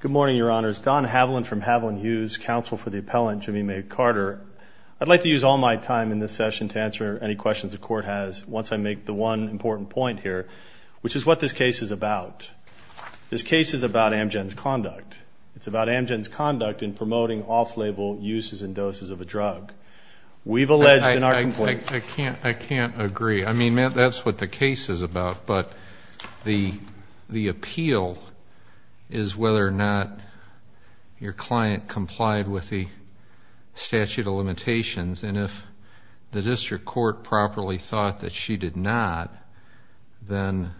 Good morning, Your Honors. Don Haviland from Haviland Hughes, Counsel for the Appellant, Jimmie Mae Carter. I'd like to use all my time in this session to answer any questions the Court has, once I make the one important point here, which is what this case is about. This case is about Amgen's conduct. It's about Amgen's conduct in promoting off-label uses and doses of a drug. We've alleged in our complaint that Amgen's conduct in promoting off-label uses and doses of a drug. I can't agree. I mean, Matt, that's what the case is about. But the appeal is whether or not your client complied with the statute of limitations. And if the district court properly thought that she did not, then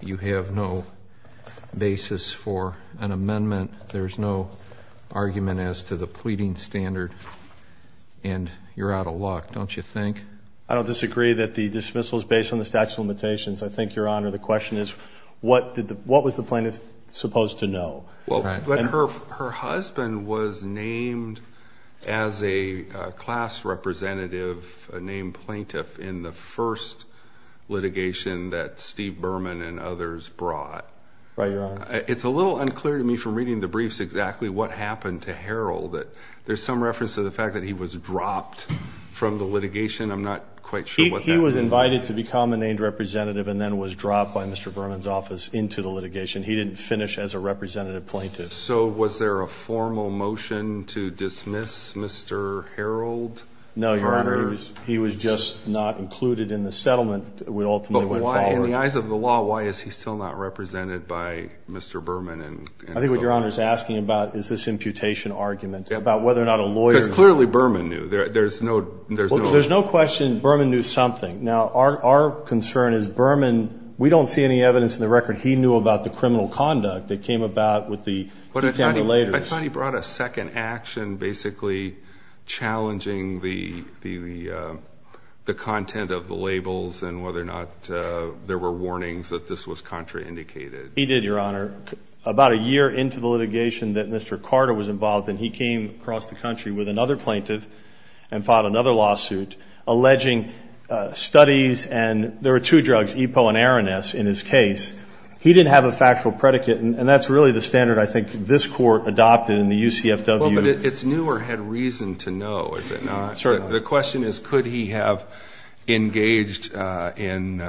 you have no basis for an amendment. There's no argument as to the pleading standard. And you're out of luck, don't you think? I don't disagree that the dismissal is based on the statute of limitations. I think, Your Honor, the question is what was the plaintiff supposed to know? Her husband was named as a class representative, a named plaintiff, in the first litigation that Steve Berman and others brought. Right, Your Honor. It's a little unclear to me from reading the briefs exactly what happened to Harold. There's some reference to the fact that he was dropped from the litigation. I'm not quite sure what that means. He was invited to become a named representative and then was dropped by Mr. Berman's office into the litigation. He didn't finish as a representative plaintiff. So was there a formal motion to dismiss Mr. Harold? No, Your Honor. He was just not included in the settlement. In the eyes of the law, why is he still not represented by Mr. Berman? I think what Your Honor is asking about is this imputation argument about whether or not a lawyer. Because clearly Berman knew. There's no question Berman knew something. Now, our concern is Berman, we don't see any evidence in the record he knew about the criminal conduct that came about with the T-Town Relators. I thought he brought a second action basically challenging the content of the labels and whether or not there were warnings that this was contraindicated. He did, Your Honor. About a year into the litigation that Mr. Carter was involved in, he came across the country with another plaintiff and filed another lawsuit alleging studies and there were two drugs, EPO and Aranes in his case. He didn't have a factual predicate, and that's really the standard I think this court adopted in the UCFW. But it's new or had reason to know, is it not? The question is could he have engaged in,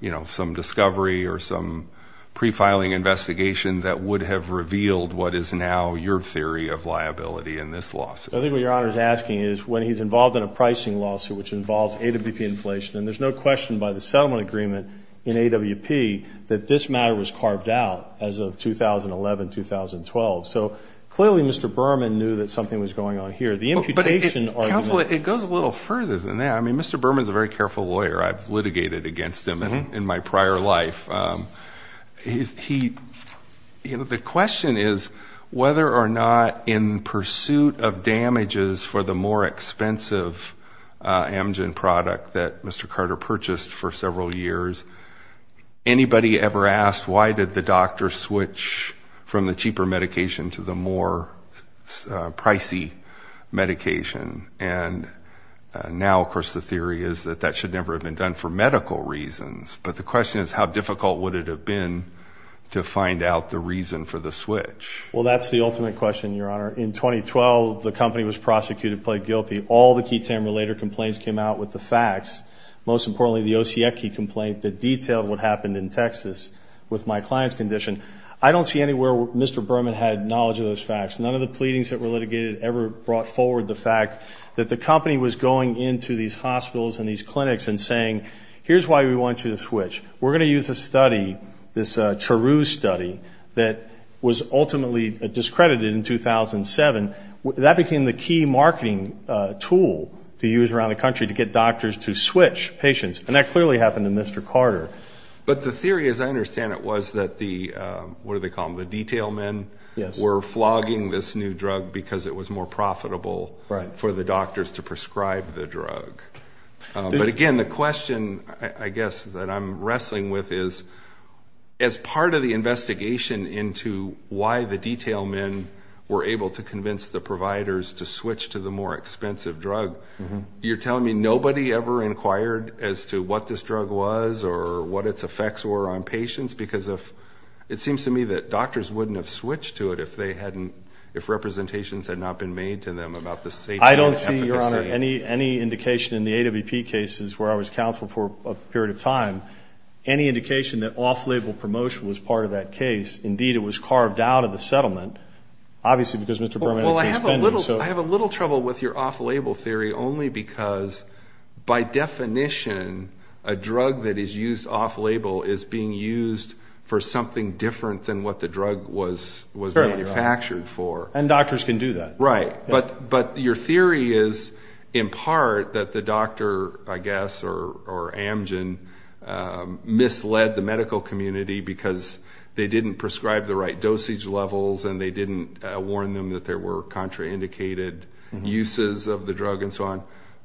you know, some discovery or some prefiling investigation that would have revealed what is now your theory of liability in this lawsuit? I think what Your Honor is asking is when he's involved in a pricing lawsuit which involves AWP inflation, and there's no question by the settlement agreement in AWP that this matter was carved out as of 2011, 2012. So clearly Mr. Berman knew that something was going on here. The imputation argument. It goes a little further than that. I mean, Mr. Berman is a very careful lawyer. I've litigated against him in my prior life. The question is whether or not in pursuit of damages for the more expensive Amgen product that Mr. Carter purchased for several years, anybody ever asked why did the doctor switch from the cheaper medication to the more pricey medication? And now, of course, the theory is that that should never have been done for medical reasons. But the question is how difficult would it have been to find out the reason for the switch? Well, that's the ultimate question, Your Honor. In 2012, the company was prosecuted, pled guilty. All the ketamine-related complaints came out with the facts. Most importantly, the Osiecki complaint that detailed what happened in Texas with my client's condition. I don't see anywhere where Mr. Berman had knowledge of those facts. None of the pleadings that were litigated ever brought forward the fact that the company was going into these hospitals and these clinics and saying, here's why we want you to switch. We're going to use a study, this CHIRU study that was ultimately discredited in 2007. That became the key marketing tool to use around the country to get doctors to switch patients. And that clearly happened to Mr. Carter. But the theory, as I understand it, was that the detail men were flogging this new drug because it was more profitable for the doctors to prescribe the drug. But again, the question, I guess, that I'm wrestling with is, as part of the investigation into why the detail men were able to convince the providers to switch to the more expensive drug, you're telling me nobody ever inquired as to what this drug was or what its effects were on patients? Because it seems to me that doctors wouldn't have switched to it if representations had not been made to them about the safety and efficacy. I don't see, Your Honor, any indication in the AWP cases where I was counsel for a period of time, any indication that off-label promotion was part of that case. Indeed, it was carved out of the settlement, obviously because Mr. Berman had to expend it. I have a little trouble with your off-label theory only because, by definition, a drug that is used off-label is being used for something different than what the drug was manufactured for. And doctors can do that. But your theory is, in part, that the doctor, I guess, or Amgen, misled the medical community because they didn't prescribe the right dosage levels and they didn't warn them that there were contraindicated uses of the drug and so on.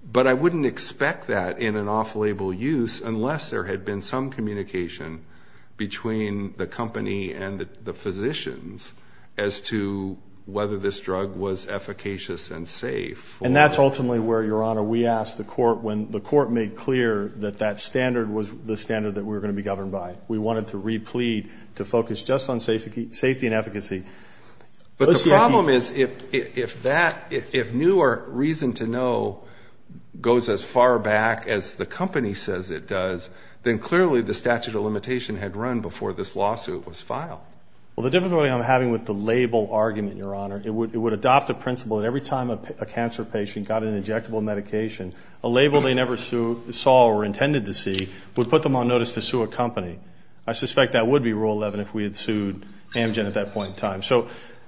But I wouldn't expect that in an off-label use unless there had been some communication between the company and the physicians as to whether this drug was efficacious and safe. And that's ultimately where, Your Honor, we asked the court when the court made clear that that standard was the standard that we were going to be governed by. We wanted to replead to focus just on safety and efficacy. But the problem is if that, if new or reason to know goes as far back as the company says it does, then clearly the statute of limitation had run before this lawsuit was filed. Well, the difficulty I'm having with the label argument, Your Honor, it would adopt a principle that every time a cancer patient got an injectable medication, a label they never saw or intended to see would put them on notice to sue a company. I suspect that would be Rule 11 if we had sued Amgen at that point in time. So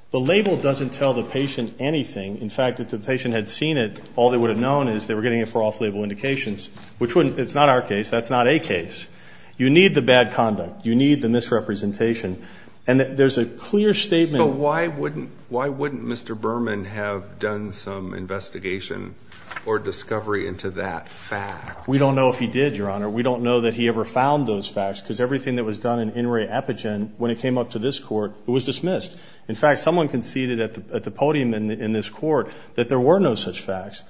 the label doesn't tell the patient anything. In fact, if the patient had seen it, all they would have known is they were getting it for off-label indications, which wouldn't, it's not our case, that's not a case. You need the bad conduct. You need the misrepresentation. And there's a clear statement. So why wouldn't Mr. Berman have done some investigation or discovery into that fact? We don't know if he did, Your Honor. We don't know that he ever found those facts, because everything that was done in in-ray epigen when it came up to this Court, it was dismissed. In fact, someone conceded at the podium in this Court that there were no such facts.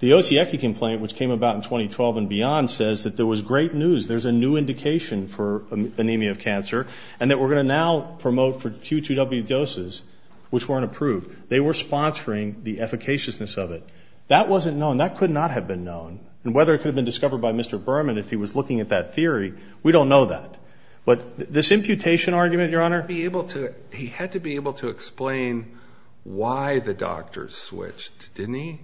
The Osiecki complaint, which came about in 2012 and beyond, says that there was great news, there's a new indication for anemia of cancer, and that we're going to now promote for Q2W doses, which weren't approved. They were sponsoring the efficaciousness of it. That wasn't known. That could not have been known. And whether it could have been discovered by Mr. Berman if he was looking at that theory, we don't know that. But this imputation argument, Your Honor? He had to be able to explain why the doctors switched, didn't he?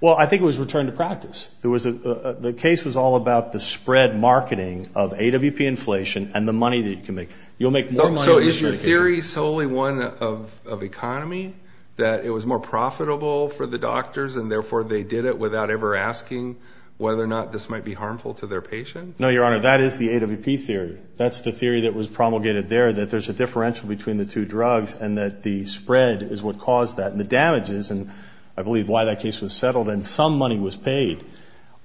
Well, I think it was return to practice. The case was all about the spread marketing of AWP inflation and the money that you can make. You'll make more money with medication. So is your theory solely one of economy, that it was more profitable for the doctors and therefore they did it without ever asking whether or not this might be harmful to their patients? No, Your Honor. That is the AWP theory. That's the theory that was promulgated there, that there's a differential between the two drugs and that the spread is what caused that. And the damages and I believe why that case was settled and some money was paid.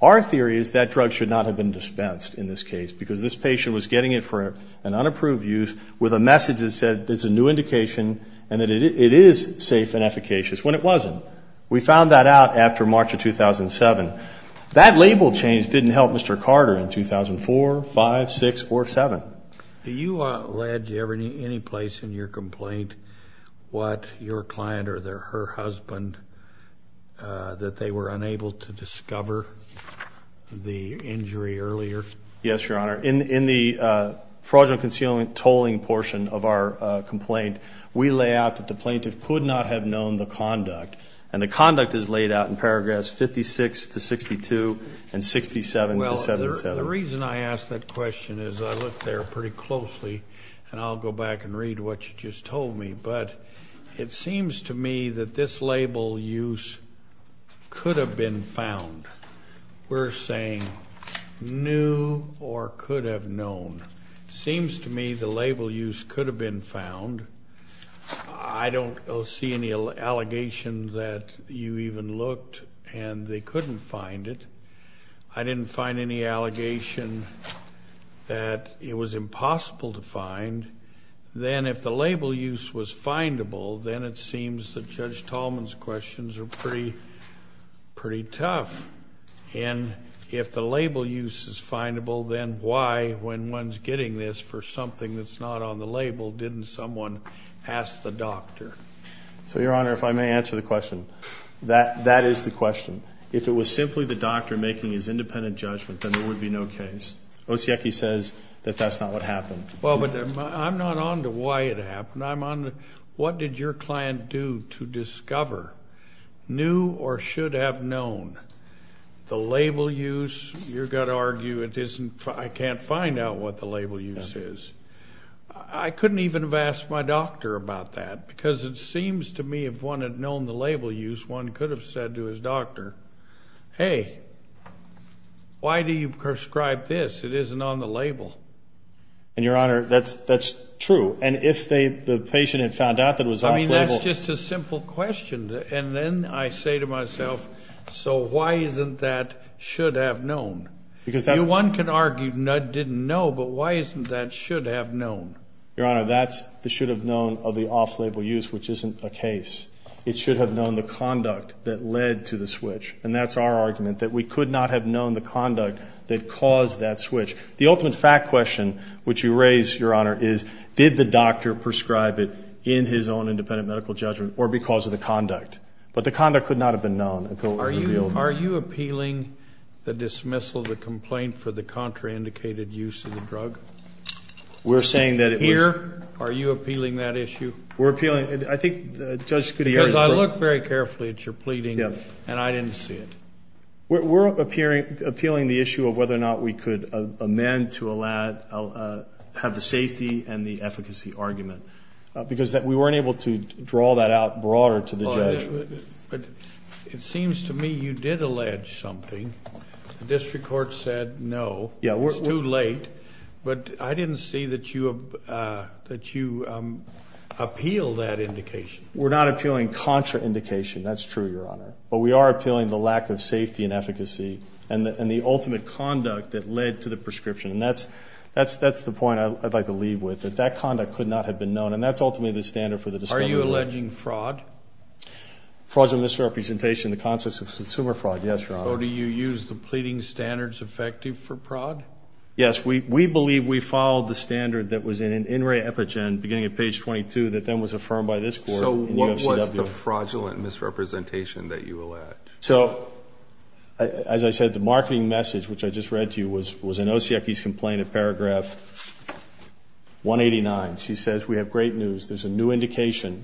Our theory is that drug should not have been dispensed in this case because this patient was getting it for an unapproved use with a message that said there's a new indication and that it is safe and efficacious when it wasn't. We found that out after March of 2007. That label change didn't help Mr. Carter in 2004, 5, 6, or 7. Do you allege any place in your complaint what your client or her husband, that they were unable to discover the injury earlier? Yes, Your Honor. In the fraudulent concealment tolling portion of our complaint, we lay out that the plaintiff could not have known the conduct. And the conduct is laid out in paragraphs 56 to 62 and 67 to 77. The reason I ask that question is I looked there pretty closely and I'll go back and read what you just told me. But it seems to me that this label use could have been found. We're saying knew or could have known. It seems to me the label use could have been found. I don't see any allegations that you even looked and they couldn't find it. I didn't find any allegation that it was impossible to find. Then if the label use was findable, then it seems that Judge Tallman's questions are pretty tough. And if the label use is findable, then why when one's getting this for something that's not on the label, didn't someone ask the doctor? So, Your Honor, if I may answer the question. That is the question. If it was simply the doctor making his independent judgment, then there would be no case. Osiecki says that that's not what happened. Well, but I'm not on to why it happened. I'm on to what did your client do to discover, knew or should have known. The label use, you're going to argue it isn't, I can't find out what the label use is. I couldn't even have asked my doctor about that because it seems to me if one had known the label use, one could have said to his doctor, hey, why do you prescribe this? It isn't on the label. And, Your Honor, that's true. And if the patient had found out that it was off-label. I mean, that's just a simple question. And then I say to myself, so why isn't that should have known? One can argue didn't know, but why isn't that should have known? Your Honor, that's the should have known of the off-label use, which isn't a case. It should have known the conduct that led to the switch. And that's our argument, that we could not have known the conduct that caused that switch. The ultimate fact question, which you raise, Your Honor, is did the doctor prescribe it in his own independent medical judgment or because of the conduct? But the conduct could not have been known until it was revealed. Are you appealing the dismissal of the complaint for the contraindicated use of the drug? We're saying that it was. Here, are you appealing that issue? We're appealing it. I think Judge Scuderi is. Because I looked very carefully at your pleading, and I didn't see it. We're appealing the issue of whether or not we could amend to have the safety and the efficacy argument because we weren't able to draw that out broader to the judge. But it seems to me you did allege something. The district court said no. It's too late. But I didn't see that you appealed that indication. We're not appealing contraindication. That's true, Your Honor. But we are appealing the lack of safety and efficacy and the ultimate conduct that led to the prescription. And that's the point I'd like to leave with, that that conduct could not have been known. And that's ultimately the standard for the discovery. Are you alleging fraud? Fraud is a misrepresentation of the concepts of consumer fraud, yes, Your Honor. So do you use the pleading standards effective for fraud? Yes. We believe we followed the standard that was in an in-ray epigen beginning at page 22 that then was affirmed by this court. So what was the fraudulent misrepresentation that you allege? So, as I said, the marketing message, which I just read to you, was in Osiecki's complaint at paragraph 189. She says, we have great news. There's a new indication,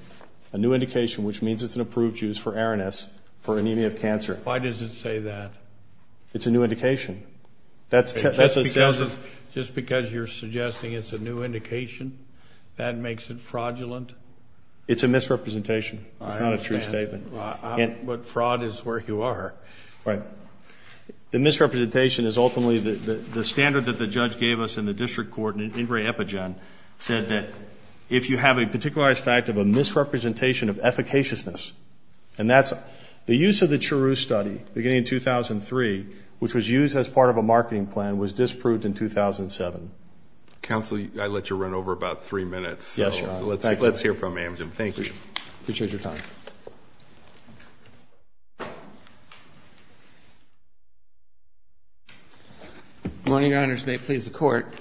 a new indication which means it's an approved use for ARINES for anemia of cancer. Why does it say that? It's a new indication. Just because you're suggesting it's a new indication, that makes it fraudulent? It's a misrepresentation. It's not a true statement. But fraud is where you are. Right. The misrepresentation is ultimately the standard that the judge gave us in the district court in an in-ray epigen, said that if you have a particularized fact of a misrepresentation of efficaciousness, And that's the use of the CHIRU study beginning in 2003, which was used as part of a marketing plan, was disproved in 2007. Counsel, I let you run over about three minutes. Yes, Your Honor. Let's hear from Amgen. Thank you. Appreciate your time. Good morning, Your Honors. May it please the Court.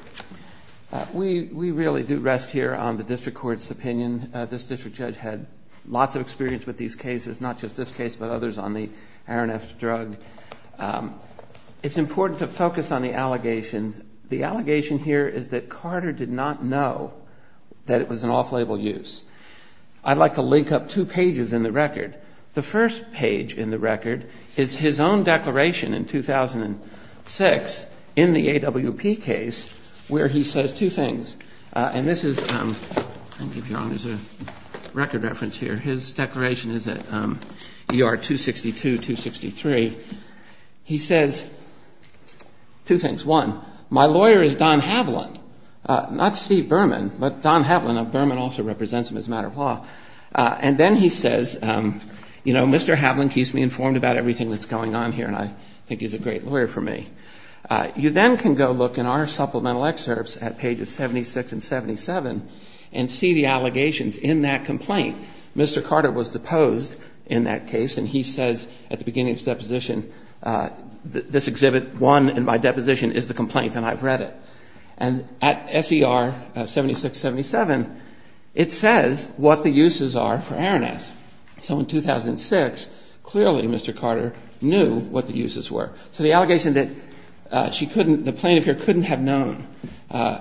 We really do rest here on the district court's opinion. This district judge had lots of experience with these cases, not just this case, but others on the Araneft drug. It's important to focus on the allegations. The allegation here is that Carter did not know that it was an off-label use. I'd like to link up two pages in the record. The first page in the record is his own declaration in 2006 in the AWP case where he says two things. And this is a record reference here. His declaration is at ER 262, 263. He says two things. One, my lawyer is Don Havlin, not Steve Berman, but Don Havlin. Now, Berman also represents him as a matter of law. And then he says, you know, Mr. Havlin keeps me informed about everything that's going on here, and I think he's a great lawyer for me. You then can go look in our supplemental excerpts at pages 76 and 77 and see the allegations in that complaint. Mr. Carter was deposed in that case, and he says at the beginning of his deposition, this exhibit 1 in my deposition is the complaint, and I've read it. And at SER 7677, it says what the uses are for Araneft. So in 2006, clearly Mr. Carter knew what the uses were. So the allegation that she couldn't, the plaintiff here couldn't have known,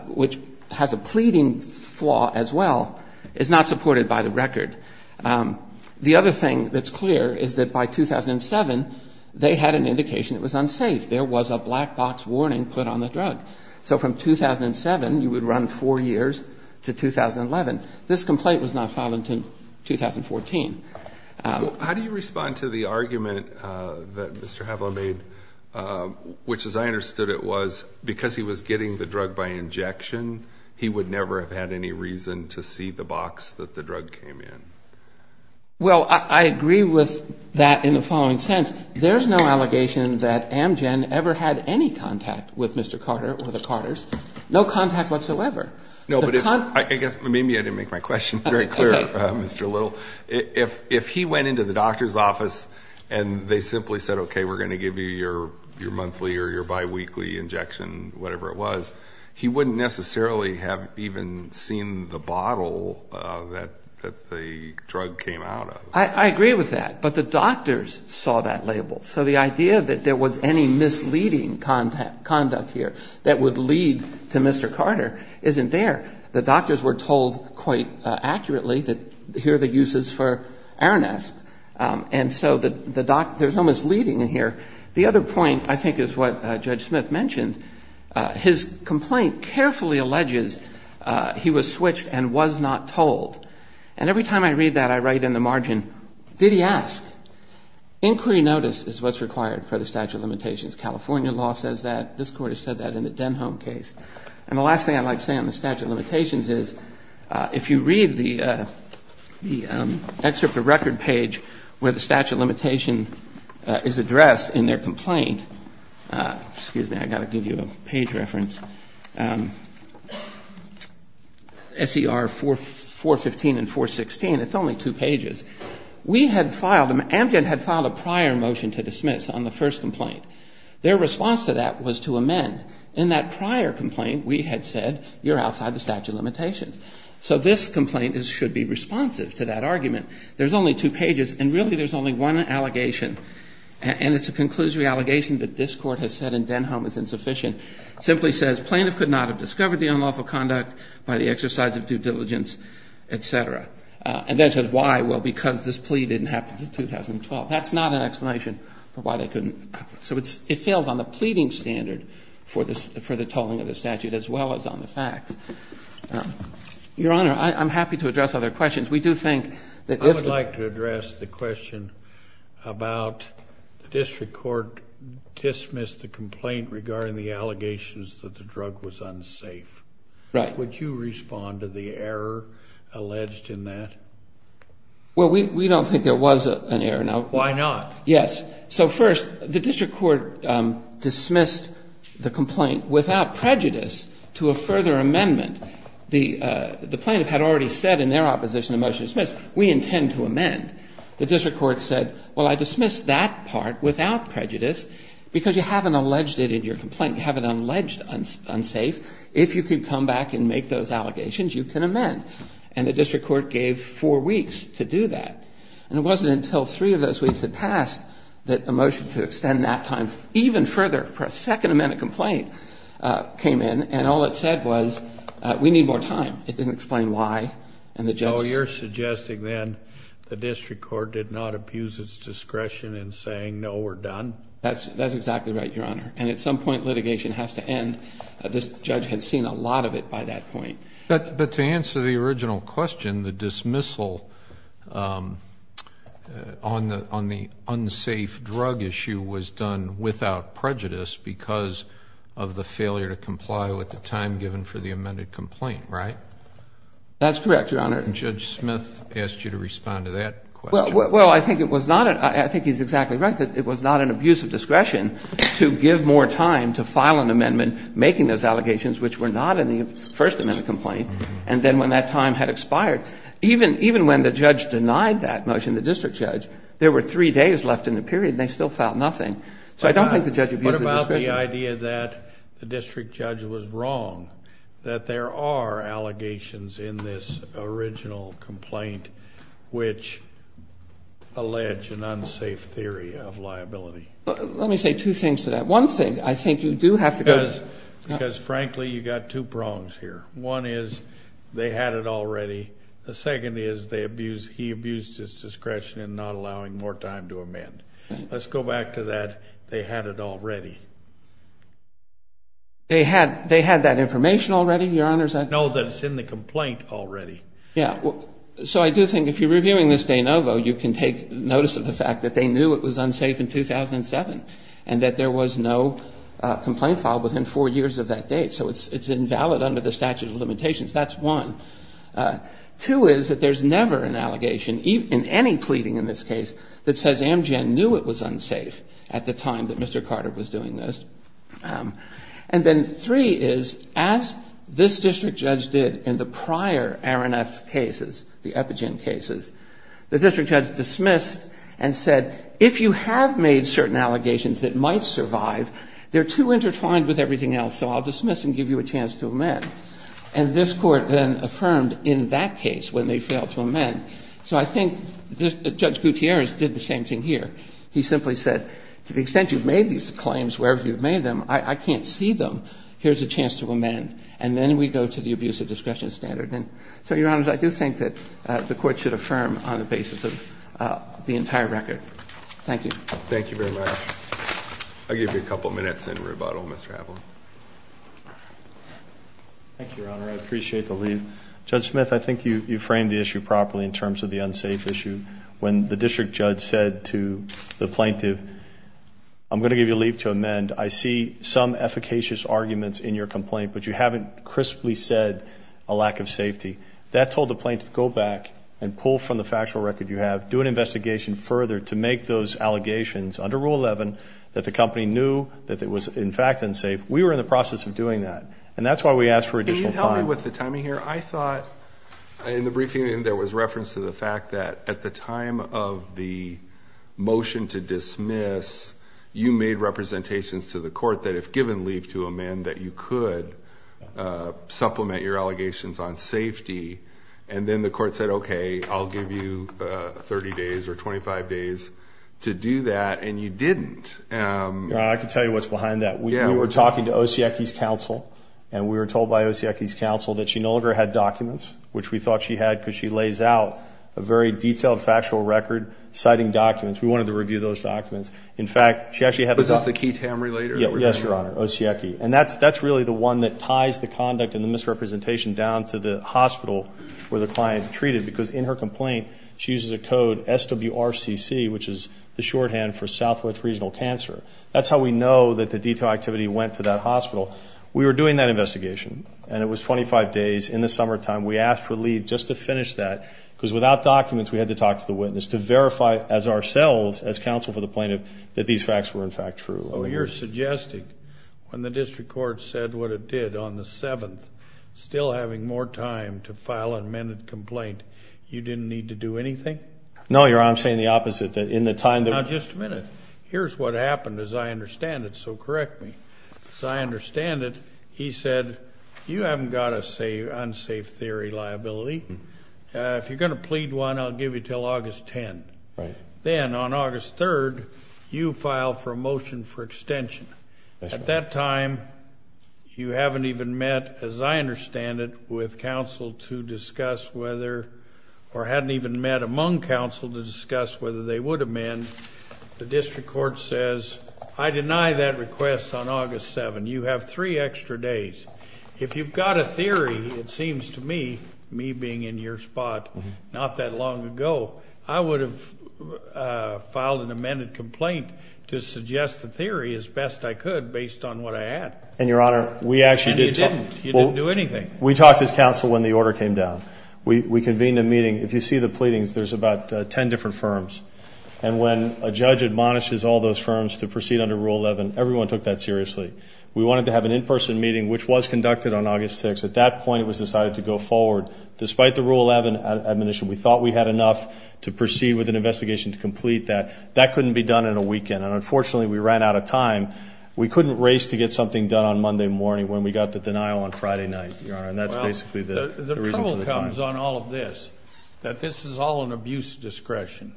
which has a pleading flaw as well, is not supported by the record. The other thing that's clear is that by 2007, they had an indication it was unsafe. There was a black box warning put on the drug. So from 2007, you would run 4 years to 2011. This complaint was not filed until 2014. How do you respond to the argument that Mr. Havlin made, which as I understood it was because he was getting the drug by injection, he would never have had any reason to see the box that the drug came in? Well, I agree with that in the following sense. There's no allegation that Amgen ever had any contact with Mr. Carter or the Carters, no contact whatsoever. Maybe I didn't make my question very clear, Mr. Little. If he went into the doctor's office and they simply said, okay, we're going to give you your monthly or your biweekly injection, whatever it was, he wouldn't necessarily have even seen the bottle that the drug came out of. I agree with that. But the doctors saw that label. So the idea that there was any misleading conduct here that would lead to Mr. Carter isn't there. The doctors were told quite accurately that here are the uses for Aronesque. And so the doctors almost leading here. The other point I think is what Judge Smith mentioned. His complaint carefully alleges he was switched and was not told. And every time I read that, I write in the margin, did he ask? Inquiry notice is what's required for the statute of limitations. California law says that. This Court has said that in the Denholm case. And the last thing I'd like to say on the statute of limitations is if you read the excerpt of record page where the statute of limitation is addressed in their complaint, excuse me, I've got to give you a page reference, S.E.R. 415 and 416, it's only two pages. We had filed, Amgen had filed a prior motion to dismiss on the first complaint. Their response to that was to amend. In that prior complaint, we had said you're outside the statute of limitations. So this complaint should be responsive to that argument. There's only two pages. And really there's only one allegation. And it's a conclusory allegation that this Court has said in Denholm is insufficient. It simply says plaintiff could not have discovered the unlawful conduct by the exercise of due diligence, et cetera. And then it says why? Well, because this plea didn't happen until 2012. That's not an explanation for why they couldn't. So it fails on the pleading standard for the tolling of the statute as well as on the facts. Your Honor, I'm happy to address other questions. We do think that if the ---- I would like to address the question about the district court dismissed the complaint regarding the allegations that the drug was unsafe. Right. Would you respond to the error alleged in that? Well, we don't think there was an error. Why not? Yes. So, first, the district court dismissed the complaint without prejudice to a further amendment. The plaintiff had already said in their opposition to the motion to dismiss, we intend to amend. The district court said, well, I dismiss that part without prejudice because you haven't alleged it in your complaint. You haven't alleged unsafe. If you could come back and make those allegations, you can amend. And the district court gave four weeks to do that. And it wasn't until three of those weeks had passed that a motion to extend that time even further for a second amendment complaint came in. And all it said was we need more time. It didn't explain why. And the judge ---- So you're suggesting then the district court did not abuse its discretion in saying no, we're done? That's exactly right, Your Honor. And at some point litigation has to end. This judge had seen a lot of it by that point. But to answer the original question, the dismissal on the unsafe drug issue was done without prejudice because of the failure to comply with the time given for the amended complaint, right? That's correct, Your Honor. Judge Smith asked you to respond to that question. Well, I think it was not an ---- I think he's exactly right. It was not an abuse of discretion to give more time to file an amendment making those allegations which were not in the first amendment complaint. And then when that time had expired, even when the judge denied that motion, the district judge, there were three days left in the period and they still filed nothing. So I don't think the judge abused his discretion. It's about the idea that the district judge was wrong, that there are allegations in this original complaint which allege an unsafe theory of liability. Let me say two things to that. One thing, I think you do have to go to ---- Because, frankly, you've got two prongs here. One is they had it already. The second is they abused, he abused his discretion in not allowing more time to amend. Let's go back to that. They had it already. They had that information already, Your Honors? No, that it's in the complaint already. Yeah. So I do think if you're reviewing this de novo, you can take notice of the fact that they knew it was unsafe in 2007 and that there was no complaint filed within four years of that date. So it's invalid under the statute of limitations. That's one. Two is that there's never an allegation in any pleading in this case that says Amgen knew it was unsafe at the time that Mr. Carter was doing this. And then three is, as this district judge did in the prior Arron F. cases, the Epigen cases, the district judge dismissed and said, if you have made certain allegations that might survive, they're too intertwined with everything else, so I'll dismiss and give you a chance to amend. And this Court then affirmed in that case when they failed to amend. So I think Judge Gutierrez did the same thing here. He simply said, to the extent you've made these claims, wherever you've made them, I can't see them. Here's a chance to amend. And then we go to the abuse of discretion standard. And so, Your Honors, I do think that the Court should affirm on the basis of the entire record. Thank you. Thank you very much. I'll give you a couple minutes in rebuttal, Mr. Applin. Thank you, Your Honor. I appreciate the leave. Judge Smith, I think you framed the issue properly in terms of the unsafe issue. When the district judge said to the plaintiff, I'm going to give you leave to amend, I see some efficacious arguments in your complaint, but you haven't crisply said a lack of safety, that told the plaintiff to go back and pull from the factual record you have, do an investigation further to make those allegations under Rule 11 that the company knew that it was, in fact, unsafe. We were in the process of doing that, and that's why we asked for additional time. Can you help me with the timing here? I thought in the briefing there was reference to the fact that at the time of the motion to dismiss, you made representations to the Court that if given leave to amend, that you could supplement your allegations on safety. And then the Court said, okay, I'll give you 30 days or 25 days to do that, and you didn't. I can tell you what's behind that. We were talking to Osiecki's counsel, and we were told by Osiecki's counsel that she no longer had documents, which we thought she had because she lays out a very detailed factual record citing documents. We wanted to review those documents. In fact, she actually had a document. Was this the key Tam relator? Yes, Your Honor, Osiecki. And that's really the one that ties the conduct and the misrepresentation down to the hospital where the client is treated because in her complaint, she uses a code SWRCC, which is the shorthand for Southwest Regional Cancer. That's how we know that the detailed activity went to that hospital. We were doing that investigation, and it was 25 days in the summertime. We asked for leave just to finish that because without documents, we had to talk to the witness to verify as ourselves, as counsel for the plaintiff, that these facts were, in fact, true. So you're suggesting when the district court said what it did on the 7th, still having more time to file an amended complaint, you didn't need to do anything? No, Your Honor. I'm saying the opposite. Now, just a minute. Here's what happened, as I understand it, so correct me. As I understand it, he said, you haven't got an unsafe theory liability. If you're going to plead one, I'll give you until August 10. Right. Then on August 3, you file for a motion for extension. At that time, you haven't even met, as I understand it, with counsel to discuss whether or hadn't even met among counsel to discuss whether they would amend. The district court says, I deny that request on August 7. You have three extra days. If you've got a theory, it seems to me, me being in your spot, not that long ago, I would have filed an amended complaint to suggest the theory as best I could based on what I had. And, Your Honor, we actually did talk. And you didn't. You didn't do anything. We talked as counsel when the order came down. We convened a meeting. If you see the pleadings, there's about 10 different firms. And when a judge admonishes all those firms to proceed under Rule 11, everyone took that seriously. We wanted to have an in-person meeting, which was conducted on August 6. At that point, it was decided to go forward. Despite the Rule 11 admonition, we thought we had enough to proceed with an investigation to complete that. That couldn't be done in a weekend. And, unfortunately, we ran out of time. We couldn't race to get something done on Monday morning when we got the denial on Friday night, Your Honor. And that's basically the reason for the time. Well, the trouble comes on all of this, that this is all an abuse of discretion.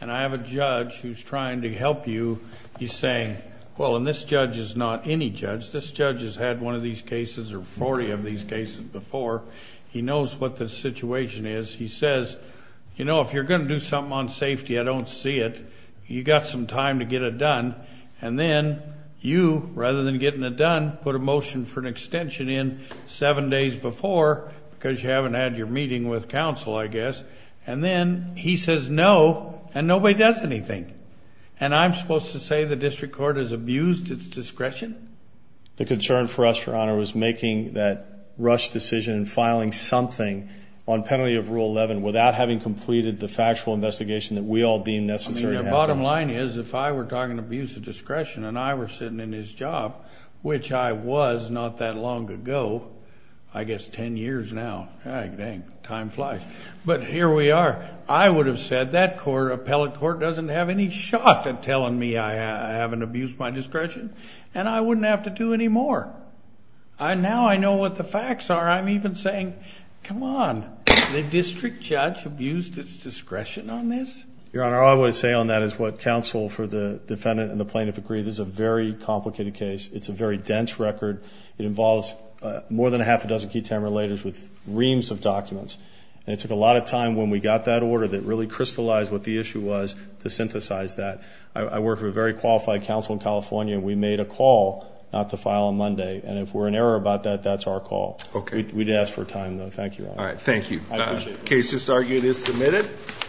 And I have a judge who's trying to help you. He's saying, well, and this judge is not any judge. This judge has had one of these cases or 40 of these cases before. He knows what the situation is. He says, you know, if you're going to do something on safety, I don't see it. You've got some time to get it done. And then you, rather than getting it done, put a motion for an extension in seven days before, because you haven't had your meeting with counsel, I guess. And then he says no, and nobody does anything. And I'm supposed to say the district court has abused its discretion? The concern for us, Your Honor, was making that rushed decision and filing something on penalty of Rule 11 without having completed the factual investigation that we all deem necessary. I mean, the bottom line is if I were talking abuse of discretion and I were sitting in his job, which I was not that long ago, I guess 10 years now. Dang, time flies. But here we are. I would have said that court, appellate court, doesn't have any shot at telling me I haven't abused my discretion. And I wouldn't have to do any more. Now I know what the facts are. I'm even saying, come on, the district judge abused its discretion on this? Your Honor, all I would say on that is what counsel for the defendant and the plaintiff agree. This is a very complicated case. It's a very dense record. It involves more than a half a dozen key time-relaters with reams of documents. And it took a lot of time when we got that order that really crystallized what the issue was to synthesize that. I work for a very qualified counsel in California, and we made a call not to file on Monday. And if we're in error about that, that's our call. Okay. We did ask for time, though. Thank you, Your Honor. All right. Thank you. I appreciate it.